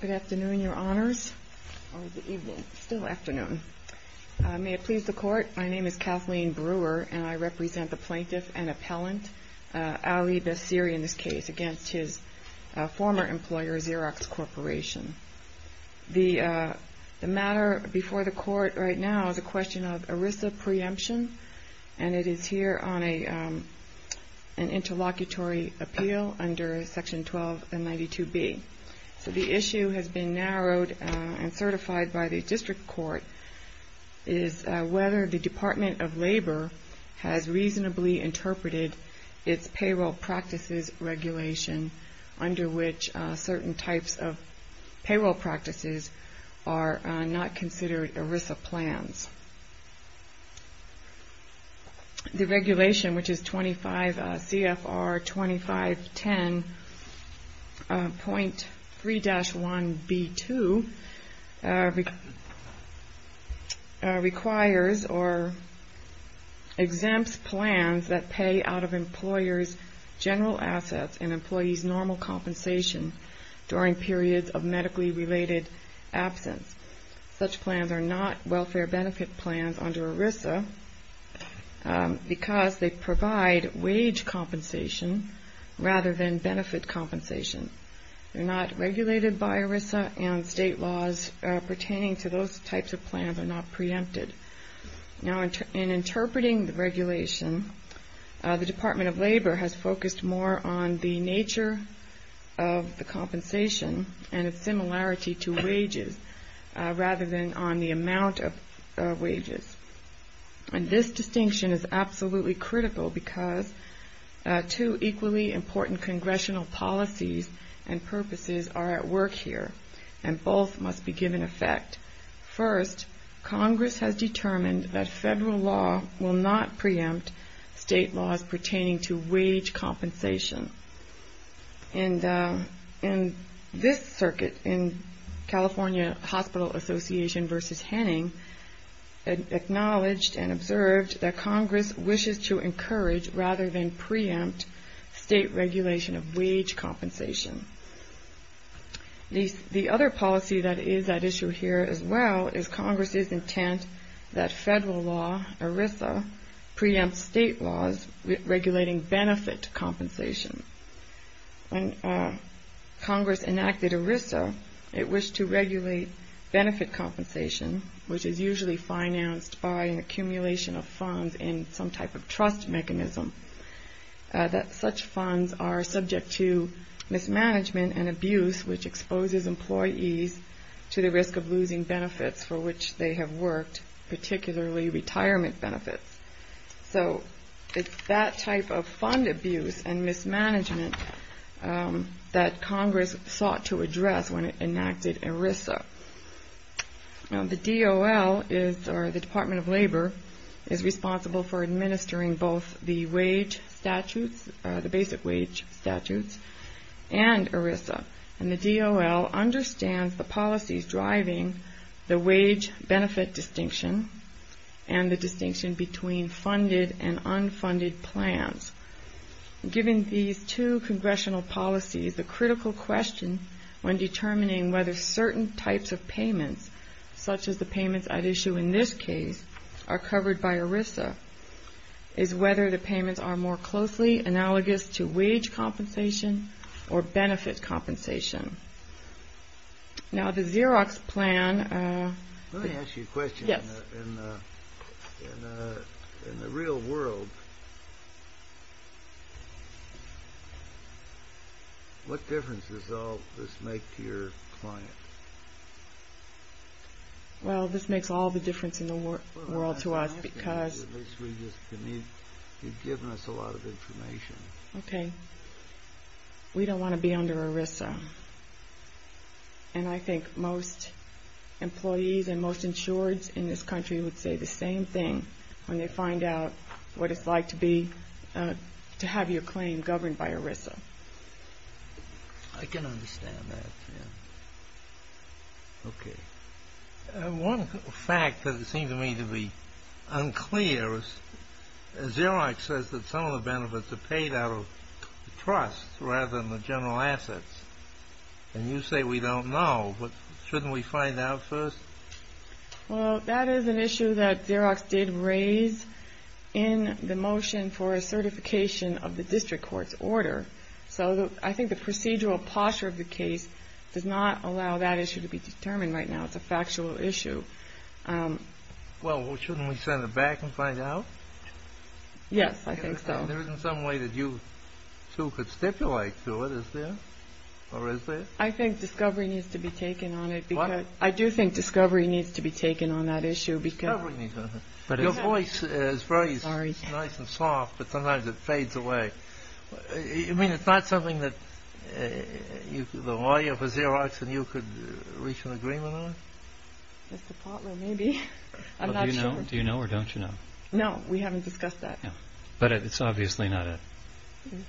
Good afternoon, Your Honors. May it please the Court, my name is Kathleen Brewer and I represent the plaintiff and appellant, Ali Bassiri in this case, against his former employer Xerox Corporation. The matter before the Court right now is a question of ERISA preemption and it is here on an interlocutory appeal under Section 12 and 92B. So the issue has been narrowed and certified by the District Court is whether the Department of Labor has reasonably interpreted its payroll practices regulation under which certain types of payroll practices are not considered ERISA plans. The regulation, which is CFR 2510.3-1B2, requires or exempts plans that pay out of employers' general assets and employees' normal compensation during periods of medically related absence. Such plans are not welfare benefit plans under ERISA because they provide wage compensation rather than benefit compensation. They're not regulated by ERISA and state laws pertaining to those types of plans are not preempted. Now in interpreting the regulation, the Department of Labor has focused more on the nature of the compensation and its similarity to wages rather than on the amount of wages. And this distinction is absolutely critical because two equally important Congressional policies and purposes are at work here and both must be given effect. First, Congress has determined that federal law will not preempt state laws pertaining to wage compensation. And this circuit in California Hospital Association v. Henning acknowledged and observed that Congress wishes to encourage rather than preempt state regulation of wage compensation. The other policy that is at issue here as well is Congress's intent that federal law, ERISA, preempts state laws regulating benefit compensation. When Congress enacted ERISA, it wished to regulate benefit compensation, which is usually financed by an accumulation of funds in some type of trust mechanism, that such funds are subject to mismanagement and abuse, which exposes employees to the risk of losing benefits for which they have worked, particularly retirement benefits. So it's that type of fund abuse and mismanagement that Congress sought to address when it enacted ERISA. Now the DOL is, or the Department of Labor, is responsible for administering both the wage statutes, the basic wage statutes, and ERISA. And the DOL understands the policies driving the wage benefit distinction and the distinction between funded and unfunded plans. Given these two congressional policies, the critical question when determining whether certain types of payments, such as the payments at issue in this case, are covered by ERISA is whether the payments are more closely analogous to wage compensation or benefit compensation. Now the Xerox plan... Let me ask you a question. Yes. In the real world, what difference does all this make to your client? Well, this makes all the difference in the world to us because... Well, I'm asking you this because you've given us a lot of information. Okay. We don't want to be under ERISA. And I think most employees and most insureds in this country would say the same thing when they find out what it's like to have your claim governed by ERISA. I can understand that, yeah. Okay. One fact that seems to me to be unclear is Xerox says that some of the benefits are paid out of trust rather than the general assets. And you say we don't know. But shouldn't we find out first? Well, that is an issue that Xerox did raise in the motion for a certification of the district court's order. So I think the procedural posture of the case does not allow that issue to be determined right now. It's a factual issue. Well, shouldn't we send it back and find out? Yes, I think so. There isn't some way that you two could stipulate to it, is there? Or is there? I think discovery needs to be taken on it. I do think discovery needs to be taken on that issue. Your voice is very nice and soft, but sometimes it fades away. I mean, it's not something that the lawyer for Xerox and you could reach an agreement on? Mr. Potler, maybe. I'm not sure. Do you know or don't you know? No, we haven't discussed that. But it's obviously not it.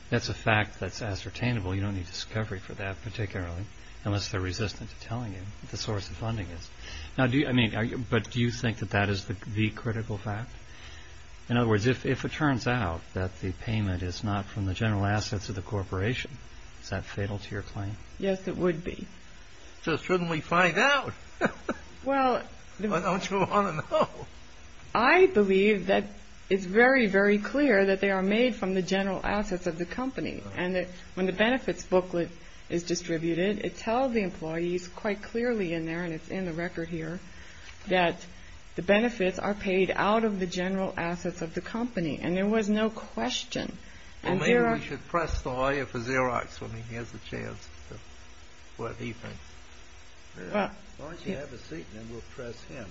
That's a fact that's ascertainable. You don't need discovery for that particularly, unless they're resistant to telling you what the source of funding is. But do you think that that is the critical fact? In other words, if it turns out that the payment is not from the general assets of the corporation, is that fatal to your claim? Yes, it would be. So shouldn't we find out? Or don't you want to know? I believe that it's very, very clear that they are made from the general assets of the company. And that when the benefits booklet is distributed, it tells the employees quite clearly in there, and it's in the record here, that the benefits are paid out of the general assets of the company. And there was no question. Well, maybe we should press the lawyer for Xerox when he has the chance to, what he thinks. Why don't you have a seat, and then we'll press him.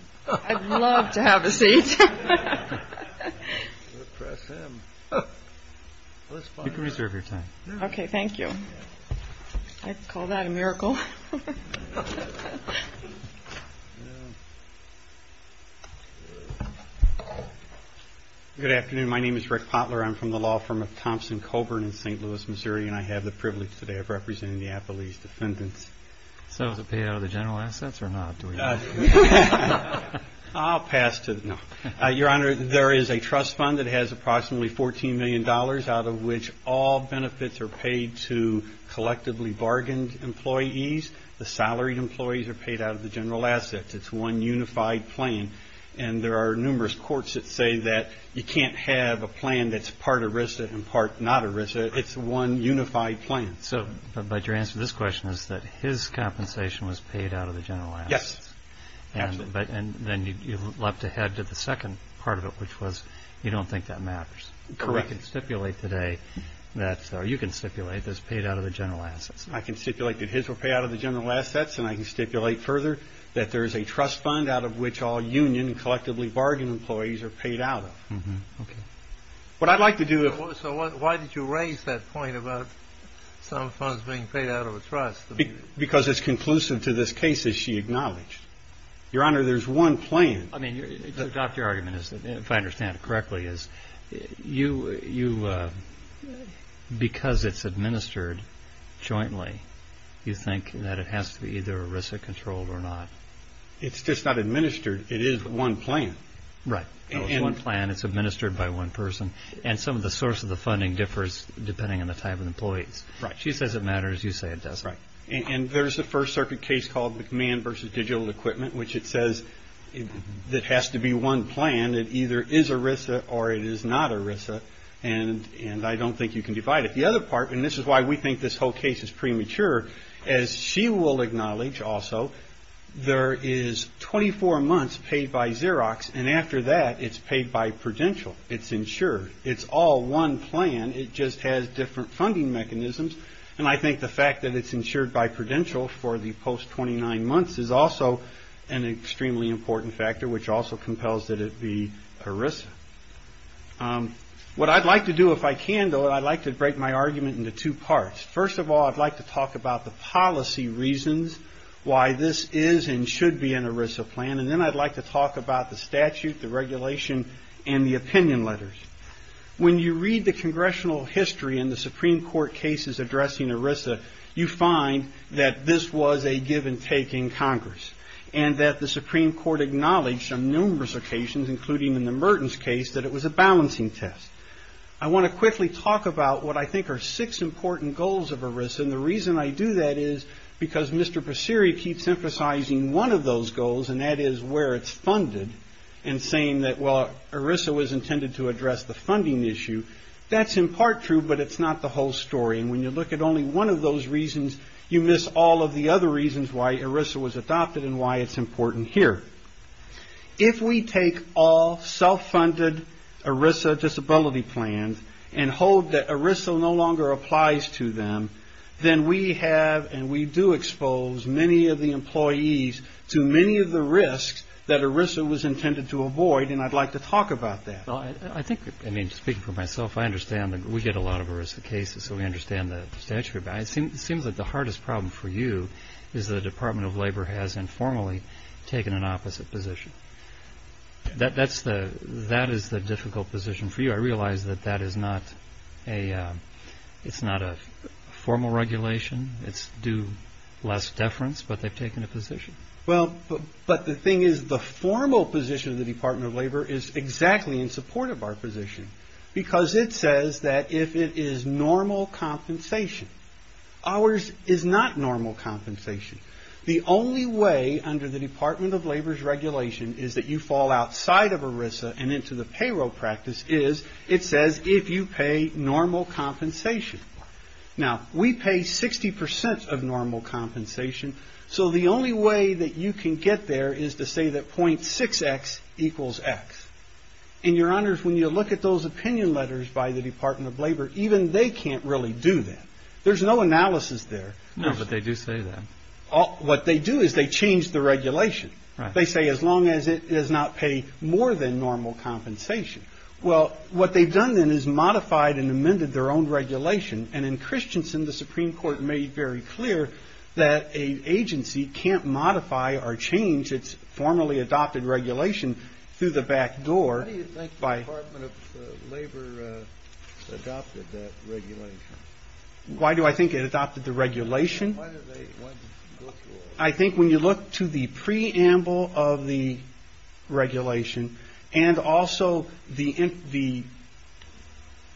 I'd love to have a seat. You can reserve your time. Okay, thank you. I'd call that a miracle. Good afternoon. My name is Rick Potler. I'm from the law firm of Thompson-Coburn in St. Louis, Missouri, and I have the privilege today of representing the Applebee's defendants. So is it paid out of the general assets or not? I'll pass to the, no. Your Honor, there is a trust fund that has approximately $14 million out of which all benefits are paid to collectively bargained employees. The salaried employees are paid out of the general assets. It's one unified plan. And there are numerous courts that say that you can't have a plan that's part ERISA and part not ERISA. It's one unified plan. So, but your answer to this question is that his compensation was paid out of the general assets. Yes, absolutely. And then you leapt ahead to the second part of it, which was you don't think that matters. Correct. So we can stipulate today that, or you can stipulate, that it's paid out of the general assets. I can stipulate that his were paid out of the general assets, and I can stipulate further that there is a trust fund out of which all union collectively bargained employees are paid out of. Okay. What I'd like to do is... So why did you raise that point about some funds being paid out of a trust? Because it's conclusive to this case, as she acknowledged. Your Honor, there's one plan. I mean, to adopt your argument, if I understand it correctly, is you, because it's administered jointly, you think that it has to be either ERISA controlled or not? It's just not administered. It is one plan. Right. It's one plan. It's administered by one person, and some of the source of the funding differs depending on the type of employees. Right. She says it matters. You say it doesn't. Right. And there's a First Circuit case called McMahon v. Digital Equipment, which it says it has to be one plan. It either is ERISA or it is not ERISA, and I don't think you can divide it. The other part, and this is why we think this whole case is premature, as she will acknowledge also, there is 24 months paid by Xerox, and after that it's paid by Prudential. It's insured. It's all one plan. It just has different funding mechanisms, and I think the fact that it's insured by Prudential for the post-29 months is also an extremely important factor, which also compels that it be ERISA. What I'd like to do, if I can, though, I'd like to break my argument into two parts. First of all, I'd like to talk about the policy reasons why this is and should be an ERISA plan, and then I'd like to talk about the statute, the regulation, and the opinion letters. When you read the congressional history and the Supreme Court cases addressing ERISA, you find that this was a give-and-take in Congress and that the Supreme Court acknowledged on numerous occasions, including in the Merton's case, that it was a balancing test. I want to quickly talk about what I think are six important goals of ERISA, and the reason I do that is because Mr. Passiri keeps emphasizing one of those goals, and that is where it's funded, and saying that, well, ERISA was intended to address the funding issue. That's in part true, but it's not the whole story, and when you look at only one of those reasons, you miss all of the other reasons why ERISA was adopted and why it's important here. If we take all self-funded ERISA disability plans and hold that ERISA no longer applies to them, then we have and we do expose many of the employees to many of the risks that ERISA was intended to avoid, and I'd like to talk about that. I think, I mean, speaking for myself, I understand that we get a lot of ERISA cases, so we understand the statute, but it seems like the hardest problem for you is the Department of Labor has informally taken an opposite position. That is the difficult position for you. I realize that that is not a formal regulation. It's due less deference, but they've taken a position. Well, but the thing is the formal position of the Department of Labor is exactly in support of our position, because it says that if it is normal compensation. Ours is not normal compensation. The only way under the Department of Labor's regulation is that you fall outside of ERISA and into the payroll practice is, it says, if you pay normal compensation. Now, we pay 60% of normal compensation, so the only way that you can get there is to say that .6X equals X. And, Your Honors, when you look at those opinion letters by the Department of Labor, even they can't really do that. There's no analysis there. No, but they do say that. What they do is they change the regulation. Right. They say as long as it does not pay more than normal compensation. Well, what they've done then is modified and amended their own regulation, and in Christensen the Supreme Court made very clear that an agency can't modify or change its formally adopted regulation through the back door. Why do you think the Department of Labor adopted that regulation? Why do I think it adopted the regulation? I think when you look to the preamble of the regulation and also the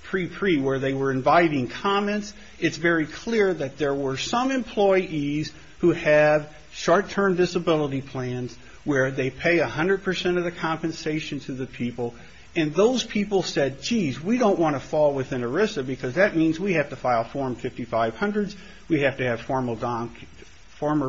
pre-pre where they were inviting comments, it's very clear that there were some employees who have short-term disability plans where they pay 100% of the compensation to the people, and those people said, geez, we don't want to fall within ERISA because that means we have to file Form 5500s. We have to have formal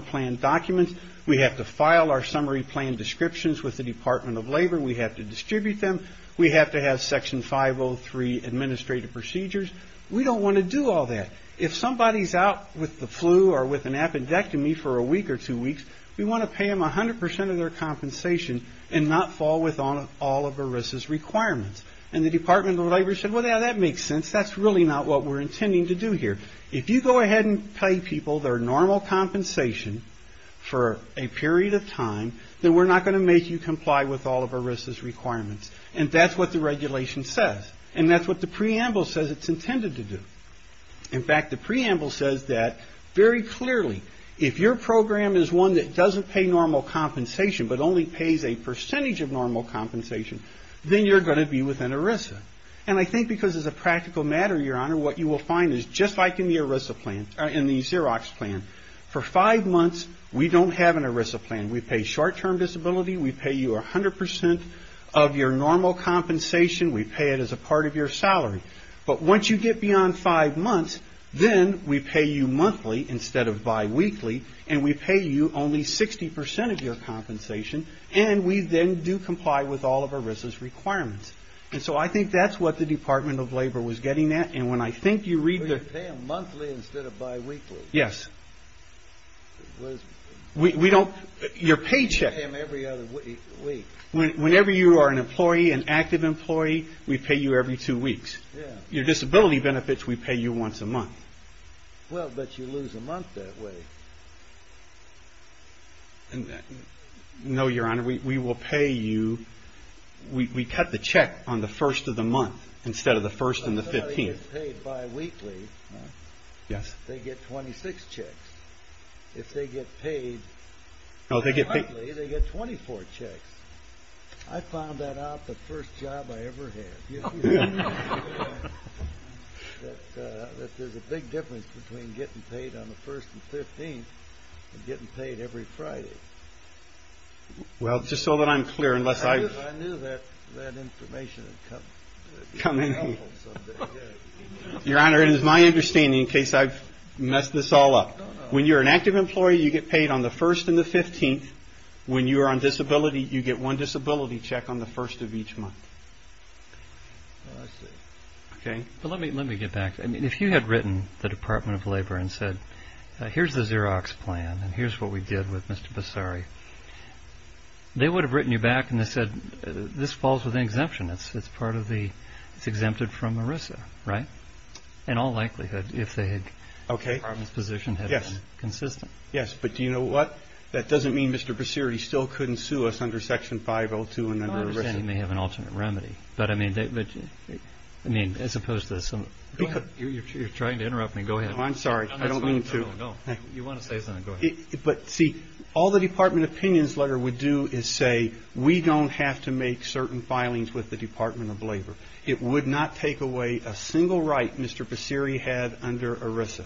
plan documents. We have to file our summary plan descriptions with the Department of Labor. We have to distribute them. We have to have Section 503 administrative procedures. We don't want to do all that. If somebody's out with the flu or with an appendectomy for a week or two weeks, we want to pay them 100% of their compensation and not fall within all of ERISA's requirements, and the Department of Labor said, well, yeah, that makes sense. That's really not what we're intending to do here. If you go ahead and pay people their normal compensation for a period of time, then we're not going to make you comply with all of ERISA's requirements, and that's what the regulation says, and that's what the preamble says it's intended to do. In fact, the preamble says that very clearly, if your program is one that doesn't pay normal compensation but only pays a percentage of normal compensation, then you're going to be within ERISA, and I think because as a practical matter, Your Honor, what you will find is just like in the ERISA plan, in the Xerox plan, for five months we don't have an ERISA plan. We pay short-term disability. We pay you 100% of your normal compensation. We pay it as a part of your salary. But once you get beyond five months, then we pay you monthly instead of biweekly, and we pay you only 60% of your compensation, and we then do comply with all of ERISA's requirements. And so I think that's what the Department of Labor was getting at, and when I think you read the – You pay them monthly instead of biweekly? Yes. We don't – your paycheck – You pay them every other week. Whenever you are an employee, an active employee, we pay you every two weeks. Your disability benefits we pay you once a month. Well, but you lose a month that way. No, Your Honor, we will pay you – we cut the check on the first of the month instead of the first and the 15th. If somebody gets paid biweekly, they get 26 checks. If they get paid monthly, they get 24 checks. I found that out the first job I ever had. There's a big difference between getting paid on the first and 15th and getting paid every Friday. Well, just so that I'm clear, unless I've – I knew that information would come in handy. Your Honor, it is my understanding, in case I've messed this all up. When you're an active employee, you get paid on the first and the 15th. When you are on disability, you get one disability check on the first of each month. I see. Okay. But let me get back. I mean, if you had written the Department of Labor and said, here's the Xerox plan and here's what we did with Mr. Basari, they would have written you back and said, this falls within exemption. It's part of the – it's exempted from ERISA, right? In all likelihood, if the Department's position had been consistent. Yes, but do you know what? That doesn't mean Mr. Basari still couldn't sue us under Section 502 and under ERISA. No, I understand he may have an alternate remedy. But, I mean, as opposed to some – Go ahead. You're trying to interrupt me. Go ahead. Oh, I'm sorry. I don't mean to. No, no, no. You want to say something. Go ahead. But, see, all the Department of Opinions letter would do is say, we don't have to make certain filings with the Department of Labor. It would not take away a single right Mr. Basari had under ERISA.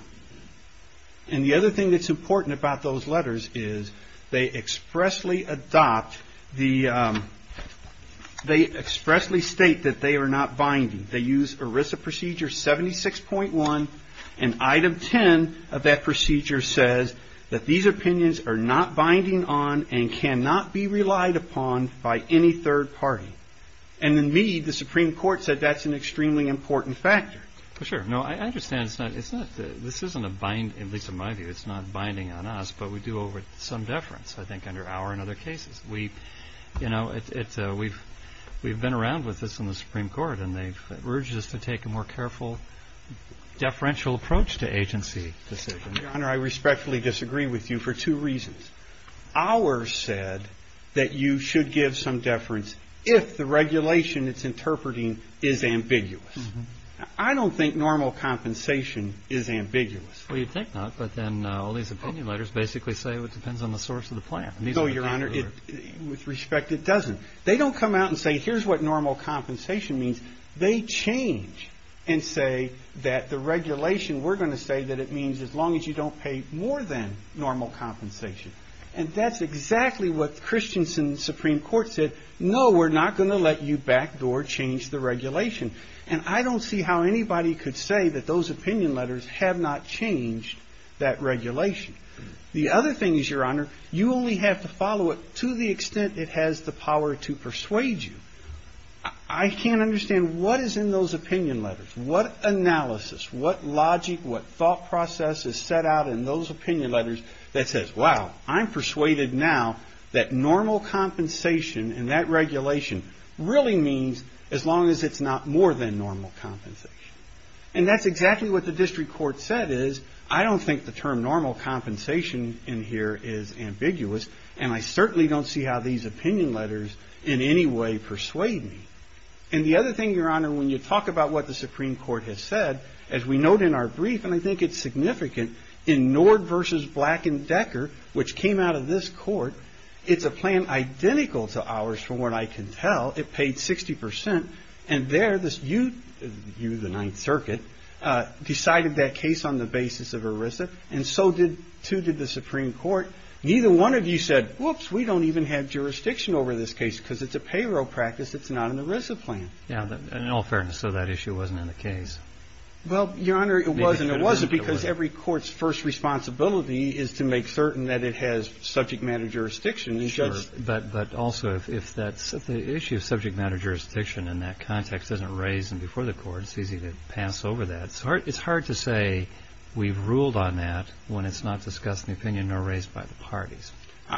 And the other thing that's important about those letters is they expressly adopt the – they expressly state that they are not binding. They use ERISA procedure 76.1, and Item 10 of that procedure says that these opinions are not binding on and cannot be relied upon by any third party. And in Meade, the Supreme Court said that's an extremely important factor. Sure. No, I understand it's not – this isn't a bind, at least in my view. It's not binding on us, but we do owe some deference, I think, under our and other cases. We've been around with this in the Supreme Court, and they've urged us to take a more careful deferential approach to agency decisions. Your Honor, I respectfully disagree with you for two reasons. Ours said that you should give some deference if the regulation it's interpreting is ambiguous. I don't think normal compensation is ambiguous. Well, you'd think not, but then all these opinion letters basically say it depends on the source of the plan. No, Your Honor. With respect, it doesn't. They don't come out and say here's what normal compensation means. They change and say that the regulation we're going to say that it means as long as you don't pay more than normal compensation. And that's exactly what Christiansen's Supreme Court said. No, we're not going to let you back door change the regulation. And I don't see how anybody could say that those opinion letters have not changed that regulation. The other thing is, Your Honor, you only have to follow it to the extent it has the power to persuade you. I can't understand what is in those opinion letters. What analysis, what logic, what thought process is set out in those opinion letters that says, wow, I'm persuaded now that normal compensation and that regulation really means as long as it's not more than normal compensation. And that's exactly what the district court said is, I don't think the term normal compensation in here is ambiguous. And I certainly don't see how these opinion letters in any way persuade me. And the other thing, Your Honor, when you talk about what the Supreme Court has said, as we note in our brief, and I think it's significant, in Nord versus Black and Decker, which came out of this court, it's a plan identical to ours from what I can tell. It paid 60 percent. And there, you, the Ninth Circuit, decided that case on the basis of ERISA. And so did, too, did the Supreme Court. Neither one of you said, whoops, we don't even have jurisdiction over this case because it's a payroll practice. It's not an ERISA plan. In all fairness, so that issue wasn't in the case. Well, Your Honor, it wasn't. It wasn't because every court's first responsibility is to make certain that it has subject matter jurisdiction. Sure. But also, if the issue of subject matter jurisdiction in that context isn't raised before the court, it's easy to pass over that. It's hard to say we've ruled on that when it's not discussed in the opinion or raised by the parties.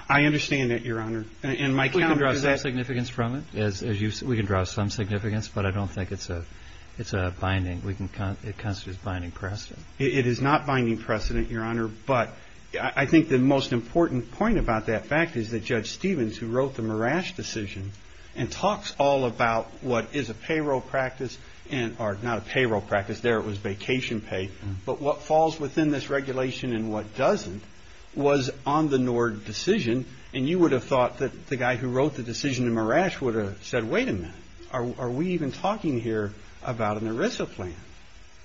I understand that, Your Honor. We can draw some significance from it, as you've said. We can draw some significance, but I don't think it's a binding. It constitutes binding precedent. It is not binding precedent, Your Honor. But I think the most important point about that fact is that Judge Stevens, who wrote the Marash decision and talks all about what is a payroll practice, or not a payroll practice, there it was vacation pay, but what falls within this regulation and what doesn't was on the Nord decision. And you would have thought that the guy who wrote the decision in Marash would have said, wait a minute, are we even talking here about an ERISA plan?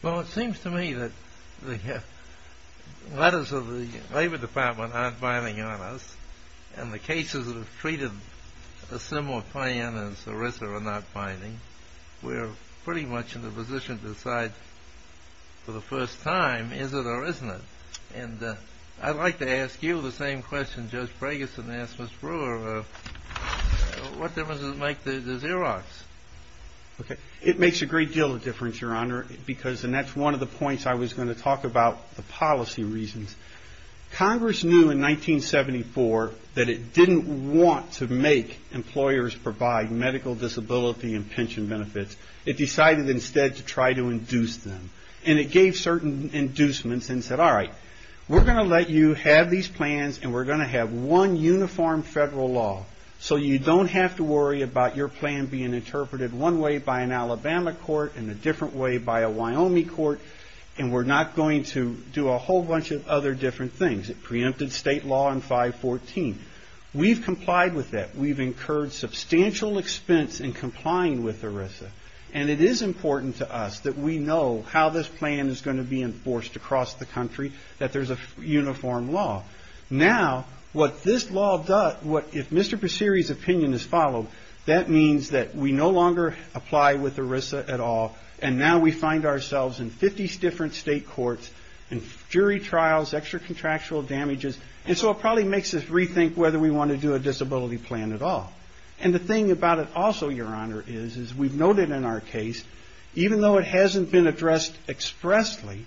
Well, it seems to me that the letters of the Labor Department aren't binding on us, and the cases that have treated a similar plan as ERISA are not binding. We're pretty much in a position to decide for the first time, is it or isn't it? And I'd like to ask you the same question Judge Brageson asked Ms. Brewer, what difference does it make to Xerox? Okay, it makes a great deal of difference, Your Honor, because and that's one of the points I was going to talk about the policy reasons. Congress knew in 1974 that it didn't want to make employers provide medical disability and pension benefits. It decided instead to try to induce them. And it gave certain inducements and said, all right, we're going to let you have these plans and we're going to have one uniform federal law, so you don't have to worry about your plan being interpreted one way by an Alabama court and a different way by a Wyoming court, and we're not going to do a whole bunch of other different things. It preempted state law in 514. We've complied with that. We've incurred substantial expense in complying with ERISA, and it is important to us that we know how this plan is going to be enforced across the country, that there's a uniform law. Now, what this law does, what if Mr. Passiri's opinion is followed, that means that we no longer apply with ERISA at all, and now we find ourselves in 50 different state courts and jury trials, extra contractual damages, and so it probably makes us rethink whether we want to do a disability plan at all. And the thing about it also, Your Honor, is we've noted in our case, even though it hasn't been addressed expressly,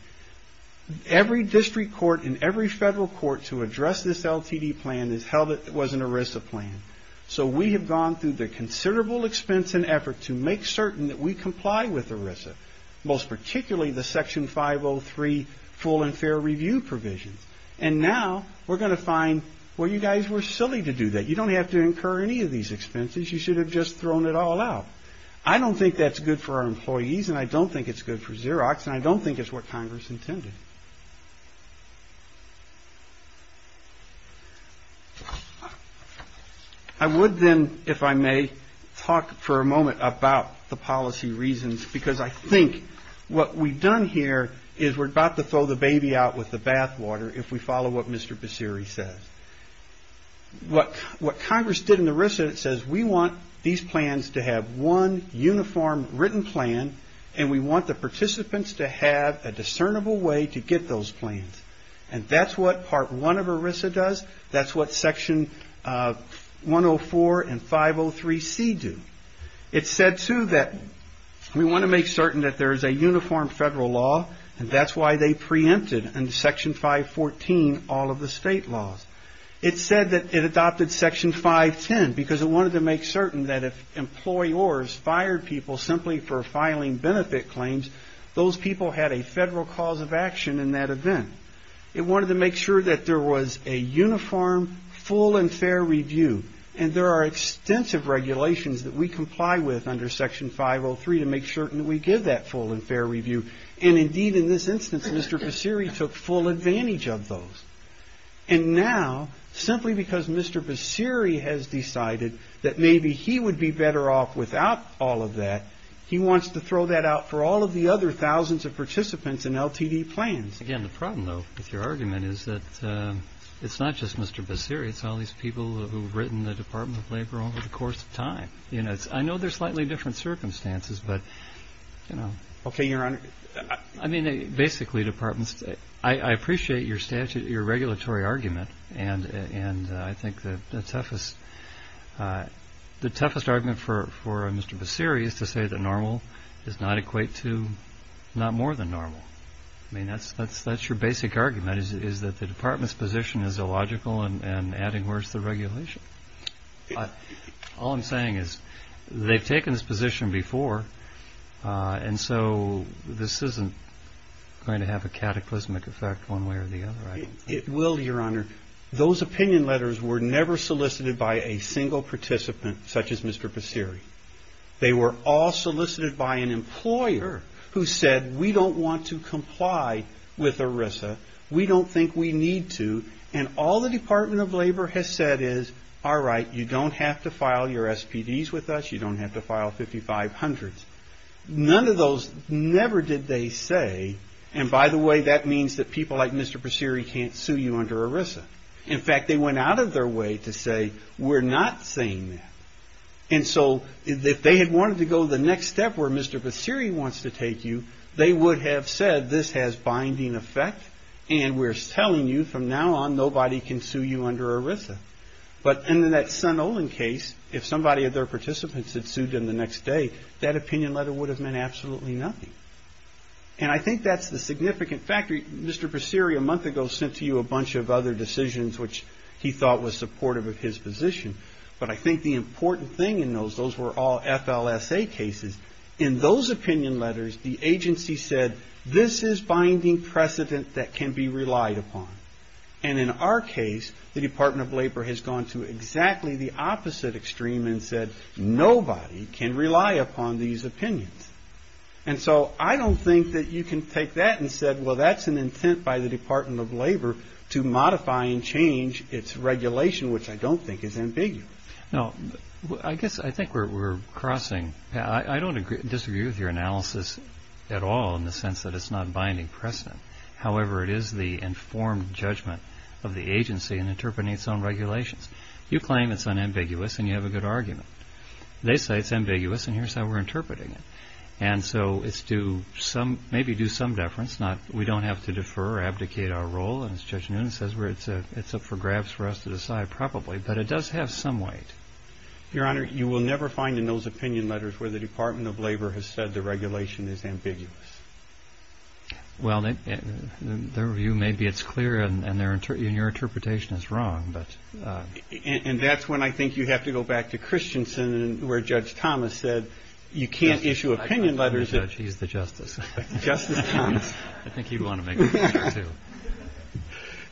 every district court and every federal court to address this LTD plan has held it was an ERISA plan. So we have gone through the considerable expense and effort to make certain that we comply with ERISA, most particularly the Section 503 full and fair review provisions, and now we're going to find, well, you guys were silly to do that. You don't have to incur any of these expenses. You should have just thrown it all out. I don't think that's good for our employees, and I don't think it's good for Xerox, and I don't think it's what Congress intended. I would then, if I may, talk for a moment about the policy reasons, because I think what we've done here is we're about to throw the baby out with the bathwater if we follow what Mr. Baseri says. What Congress did in ERISA, it says we want these plans to have one uniform written plan, and we want the participants to have a discernible way to get those plans, and that's what Part 1 of ERISA does. That's what Section 104 and 503C do. It said, too, that we want to make certain that there is a uniform federal law, and that's why they preempted in Section 514 all of the state laws. It said that it adopted Section 510 because it wanted to make certain that if employers fired people simply for filing benefit claims, those people had a federal cause of action in that event. It wanted to make sure that there was a uniform, full, and fair review, and there are extensive regulations that we comply with under Section 503 to make certain that we give that full and fair review, and indeed in this instance Mr. Baseri took full advantage of those. And now, simply because Mr. Baseri has decided that maybe he would be better off without all of that, he wants to throw that out for all of the other thousands of participants in LTD plans. Again, the problem, though, with your argument is that it's not just Mr. Baseri. It's all these people who have written the Department of Labor over the course of time. I know they're slightly different circumstances, but, you know. Okay, Your Honor. I mean, basically, Departments, I appreciate your statutory, your regulatory argument, and I think the toughest argument for Mr. Baseri is to say that normal does not equate to not more than normal. I mean, that's your basic argument is that the Department's position is illogical and adding worse the regulation. All I'm saying is they've taken this position before, and so this isn't going to have a cataclysmic effect one way or the other, right? It will, Your Honor. Those opinion letters were never solicited by a single participant such as Mr. Baseri. They were all solicited by an employer who said we don't want to comply with ERISA. We don't think we need to. And all the Department of Labor has said is, all right, you don't have to file your SPDs with us. You don't have to file 5500s. None of those never did they say, and by the way, that means that people like Mr. Baseri can't sue you under ERISA. In fact, they went out of their way to say we're not saying that. And so if they had wanted to go the next step where Mr. Baseri wants to take you, they would have said this has binding effect and we're telling you from now on nobody can sue you under ERISA. But in that Sun Olin case, if somebody of their participants had sued him the next day, that opinion letter would have meant absolutely nothing. And I think that's the significant factor. Mr. Baseri a month ago sent to you a bunch of other decisions which he thought was supportive of his position. But I think the important thing in those, those were all FLSA cases. In those opinion letters, the agency said this is binding precedent that can be relied upon. And in our case, the Department of Labor has gone to exactly the opposite extreme and said nobody can rely upon these opinions. And so I don't think that you can take that and say, well, that's an intent by the Department of Labor to modify and change its regulation, which I don't think is ambiguous. Now, I guess I think we're crossing. I don't disagree with your analysis at all in the sense that it's not binding precedent. However, it is the informed judgment of the agency in interpreting its own regulations. You claim it's unambiguous, and you have a good argument. They say it's ambiguous, and here's how we're interpreting it. And so it's to maybe do some deference. We don't have to defer or abdicate our role, and as Judge Noonan says, it's up for grabs for us to decide probably. But it does have some weight. Your Honor, you will never find in those opinion letters where the Department of Labor has said the regulation is ambiguous. Well, their view may be it's clear, and your interpretation is wrong. And that's when I think you have to go back to Christensen where Judge Thomas said you can't issue opinion letters. He's the justice. Justice Thomas. I think you'd want to make a point, too.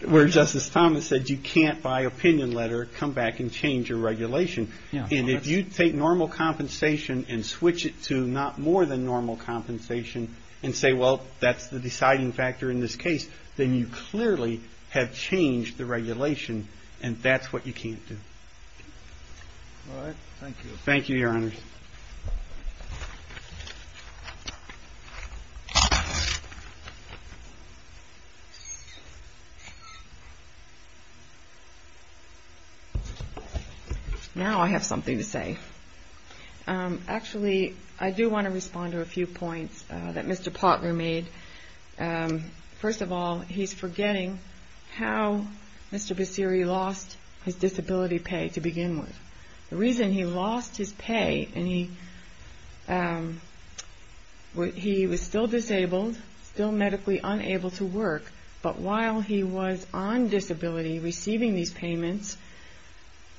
Where Justice Thomas said you can't, by opinion letter, come back and change your regulation. And if you take normal compensation and switch it to not more than normal compensation and say, well, that's the deciding factor in this case, then you clearly have changed the regulation, and that's what you can't do. All right. Thank you. Thank you, Your Honors. Thank you. Now I have something to say. Actually, I do want to respond to a few points that Mr. Potler made. First of all, he's forgetting how Mr. Basiri lost his disability pay to begin with. The reason he lost his pay and he was still disabled, still medically unable to work, but while he was on disability receiving these payments,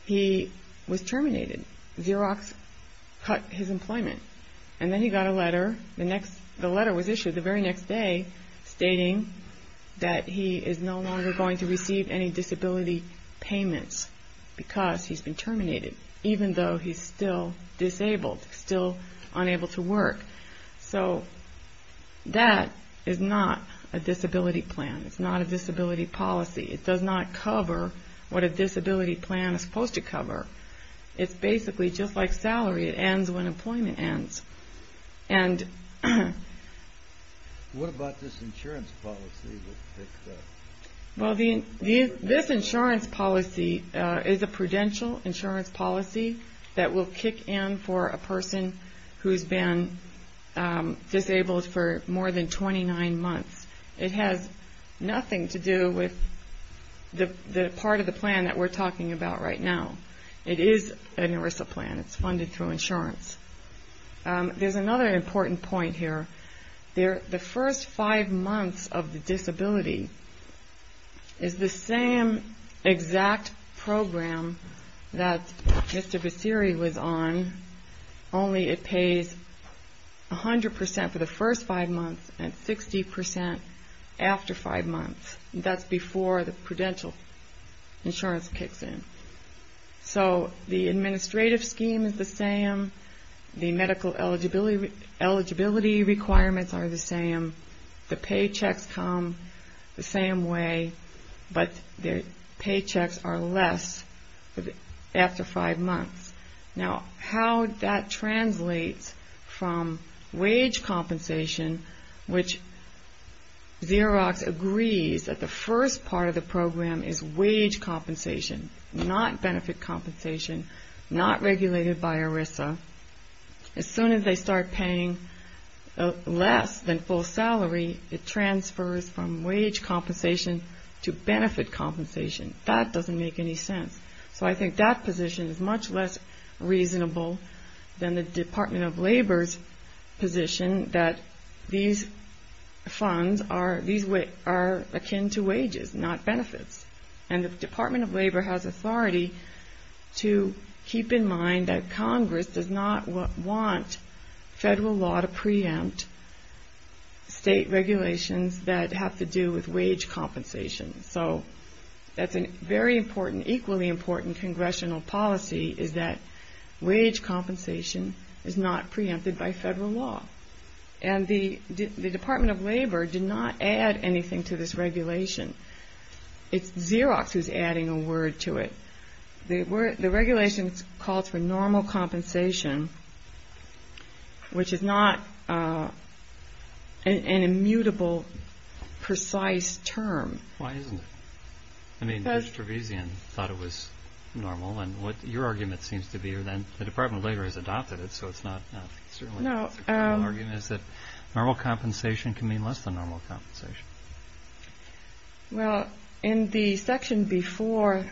he was terminated. Xerox cut his employment, and then he got a letter. The letter was issued the very next day stating that he is no longer going to receive any disability payments because he's been terminated, even though he's still disabled, still unable to work. So that is not a disability plan. It's not a disability policy. It does not cover what a disability plan is supposed to cover. It's basically just like salary. It ends when employment ends. What about this insurance policy? Well, this insurance policy is a prudential insurance policy that will kick in for a person who's been disabled for more than 29 months. It has nothing to do with the part of the plan that we're talking about right now. It is an ERISA plan. It's funded through insurance. There's another important point here. The first five months of the disability is the same exact program that Mr. Vasiri was on, only it pays 100% for the first five months and 60% after five months. That's before the prudential insurance kicks in. So the administrative scheme is the same. The medical eligibility requirements are the same. The paychecks come the same way, but the paychecks are less after five months. Now, how that translates from wage compensation, which Xerox agrees that the first part of the program is wage compensation, not benefit compensation, not regulated by ERISA, as soon as they start paying less than full salary, it transfers from wage compensation to benefit compensation. That doesn't make any sense. So I think that position is much less reasonable than the Department of Labor's position that these funds are akin to wages, not benefits. And the Department of Labor has authority to keep in mind that Congress does not want federal law to preempt state regulations that have to do with wage compensation. So that's a very important, equally important congressional policy, is that wage compensation is not preempted by federal law. And the Department of Labor did not add anything to this regulation. It's Xerox who's adding a word to it. The regulation calls for normal compensation, which is not an immutable, precise term. Why isn't it? I mean, Mr. Trevisan thought it was normal. And what your argument seems to be, and the Department of Labor has adopted it, so it's not certainly an argument, is that normal compensation can mean less than normal compensation. Well, in the section before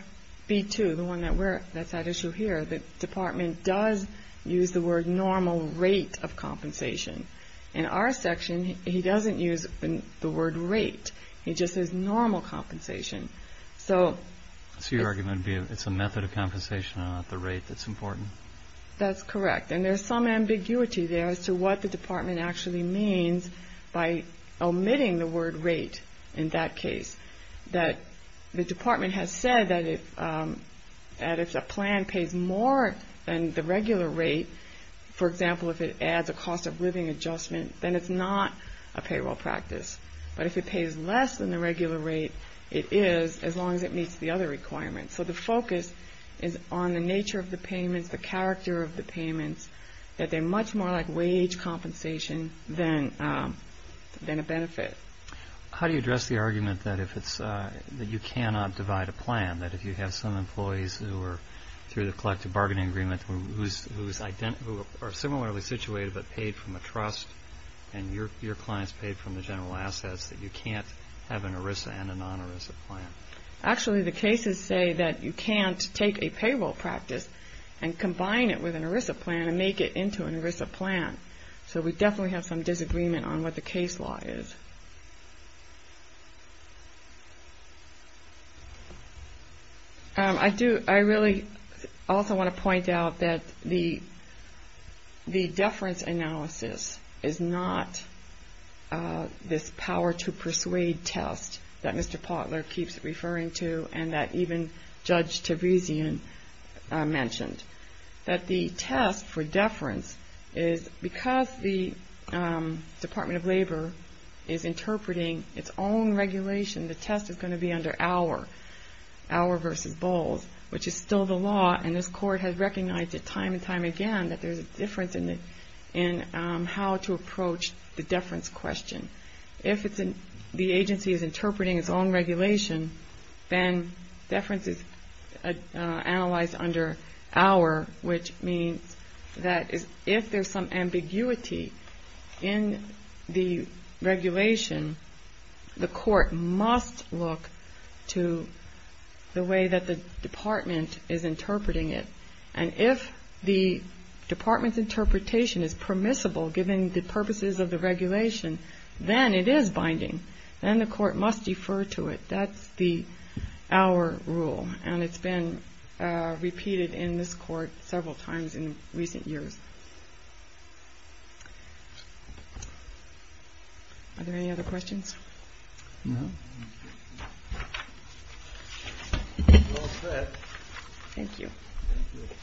B-2, the one that's at issue here, the Department does use the word normal rate of compensation. In our section, he doesn't use the word rate. He just says normal compensation. So your argument would be it's a method of compensation, not the rate that's important? That's correct. And there's some ambiguity there as to what the department actually means by omitting the word rate in that case. That the department has said that if a plan pays more than the regular rate, for example, if it adds a cost of living adjustment, then it's not a payroll practice. But if it pays less than the regular rate, it is, as long as it meets the other requirements. So the focus is on the nature of the payments, the character of the payments, that they're much more like wage compensation than a benefit. How do you address the argument that you cannot divide a plan, that if you have some employees who are through the collective bargaining agreement who are similarly situated but paid from a trust and your clients paid from the general assets, that you can't have an ERISA and a non-ERISA plan? Actually, the cases say that you can't take a payroll practice and combine it with an ERISA plan and make it into an ERISA plan. So we definitely have some disagreement on what the case law is. I really also want to point out that the deference analysis is not this power to persuade test that Mr. Potler keeps referring to and that even Judge Tavizian mentioned. That the test for deference is because the Department of Labor is interpreting its own regulation, the test is going to be under our, our versus Bowles, which is still the law, and this Court has recognized it time and time again that there's a difference in how to approach the deference question. If the agency is interpreting its own regulation, then deference is analyzed under our, which means that if there's some ambiguity in the regulation, the court must look to the way that the department is interpreting it. And if the department's interpretation is permissible given the purposes of the regulation, then it is binding, then the court must defer to it. That's the, our rule, and it's been repeated in this court several times in recent years. Are there any other questions? No. All set. Thank you. Thank you.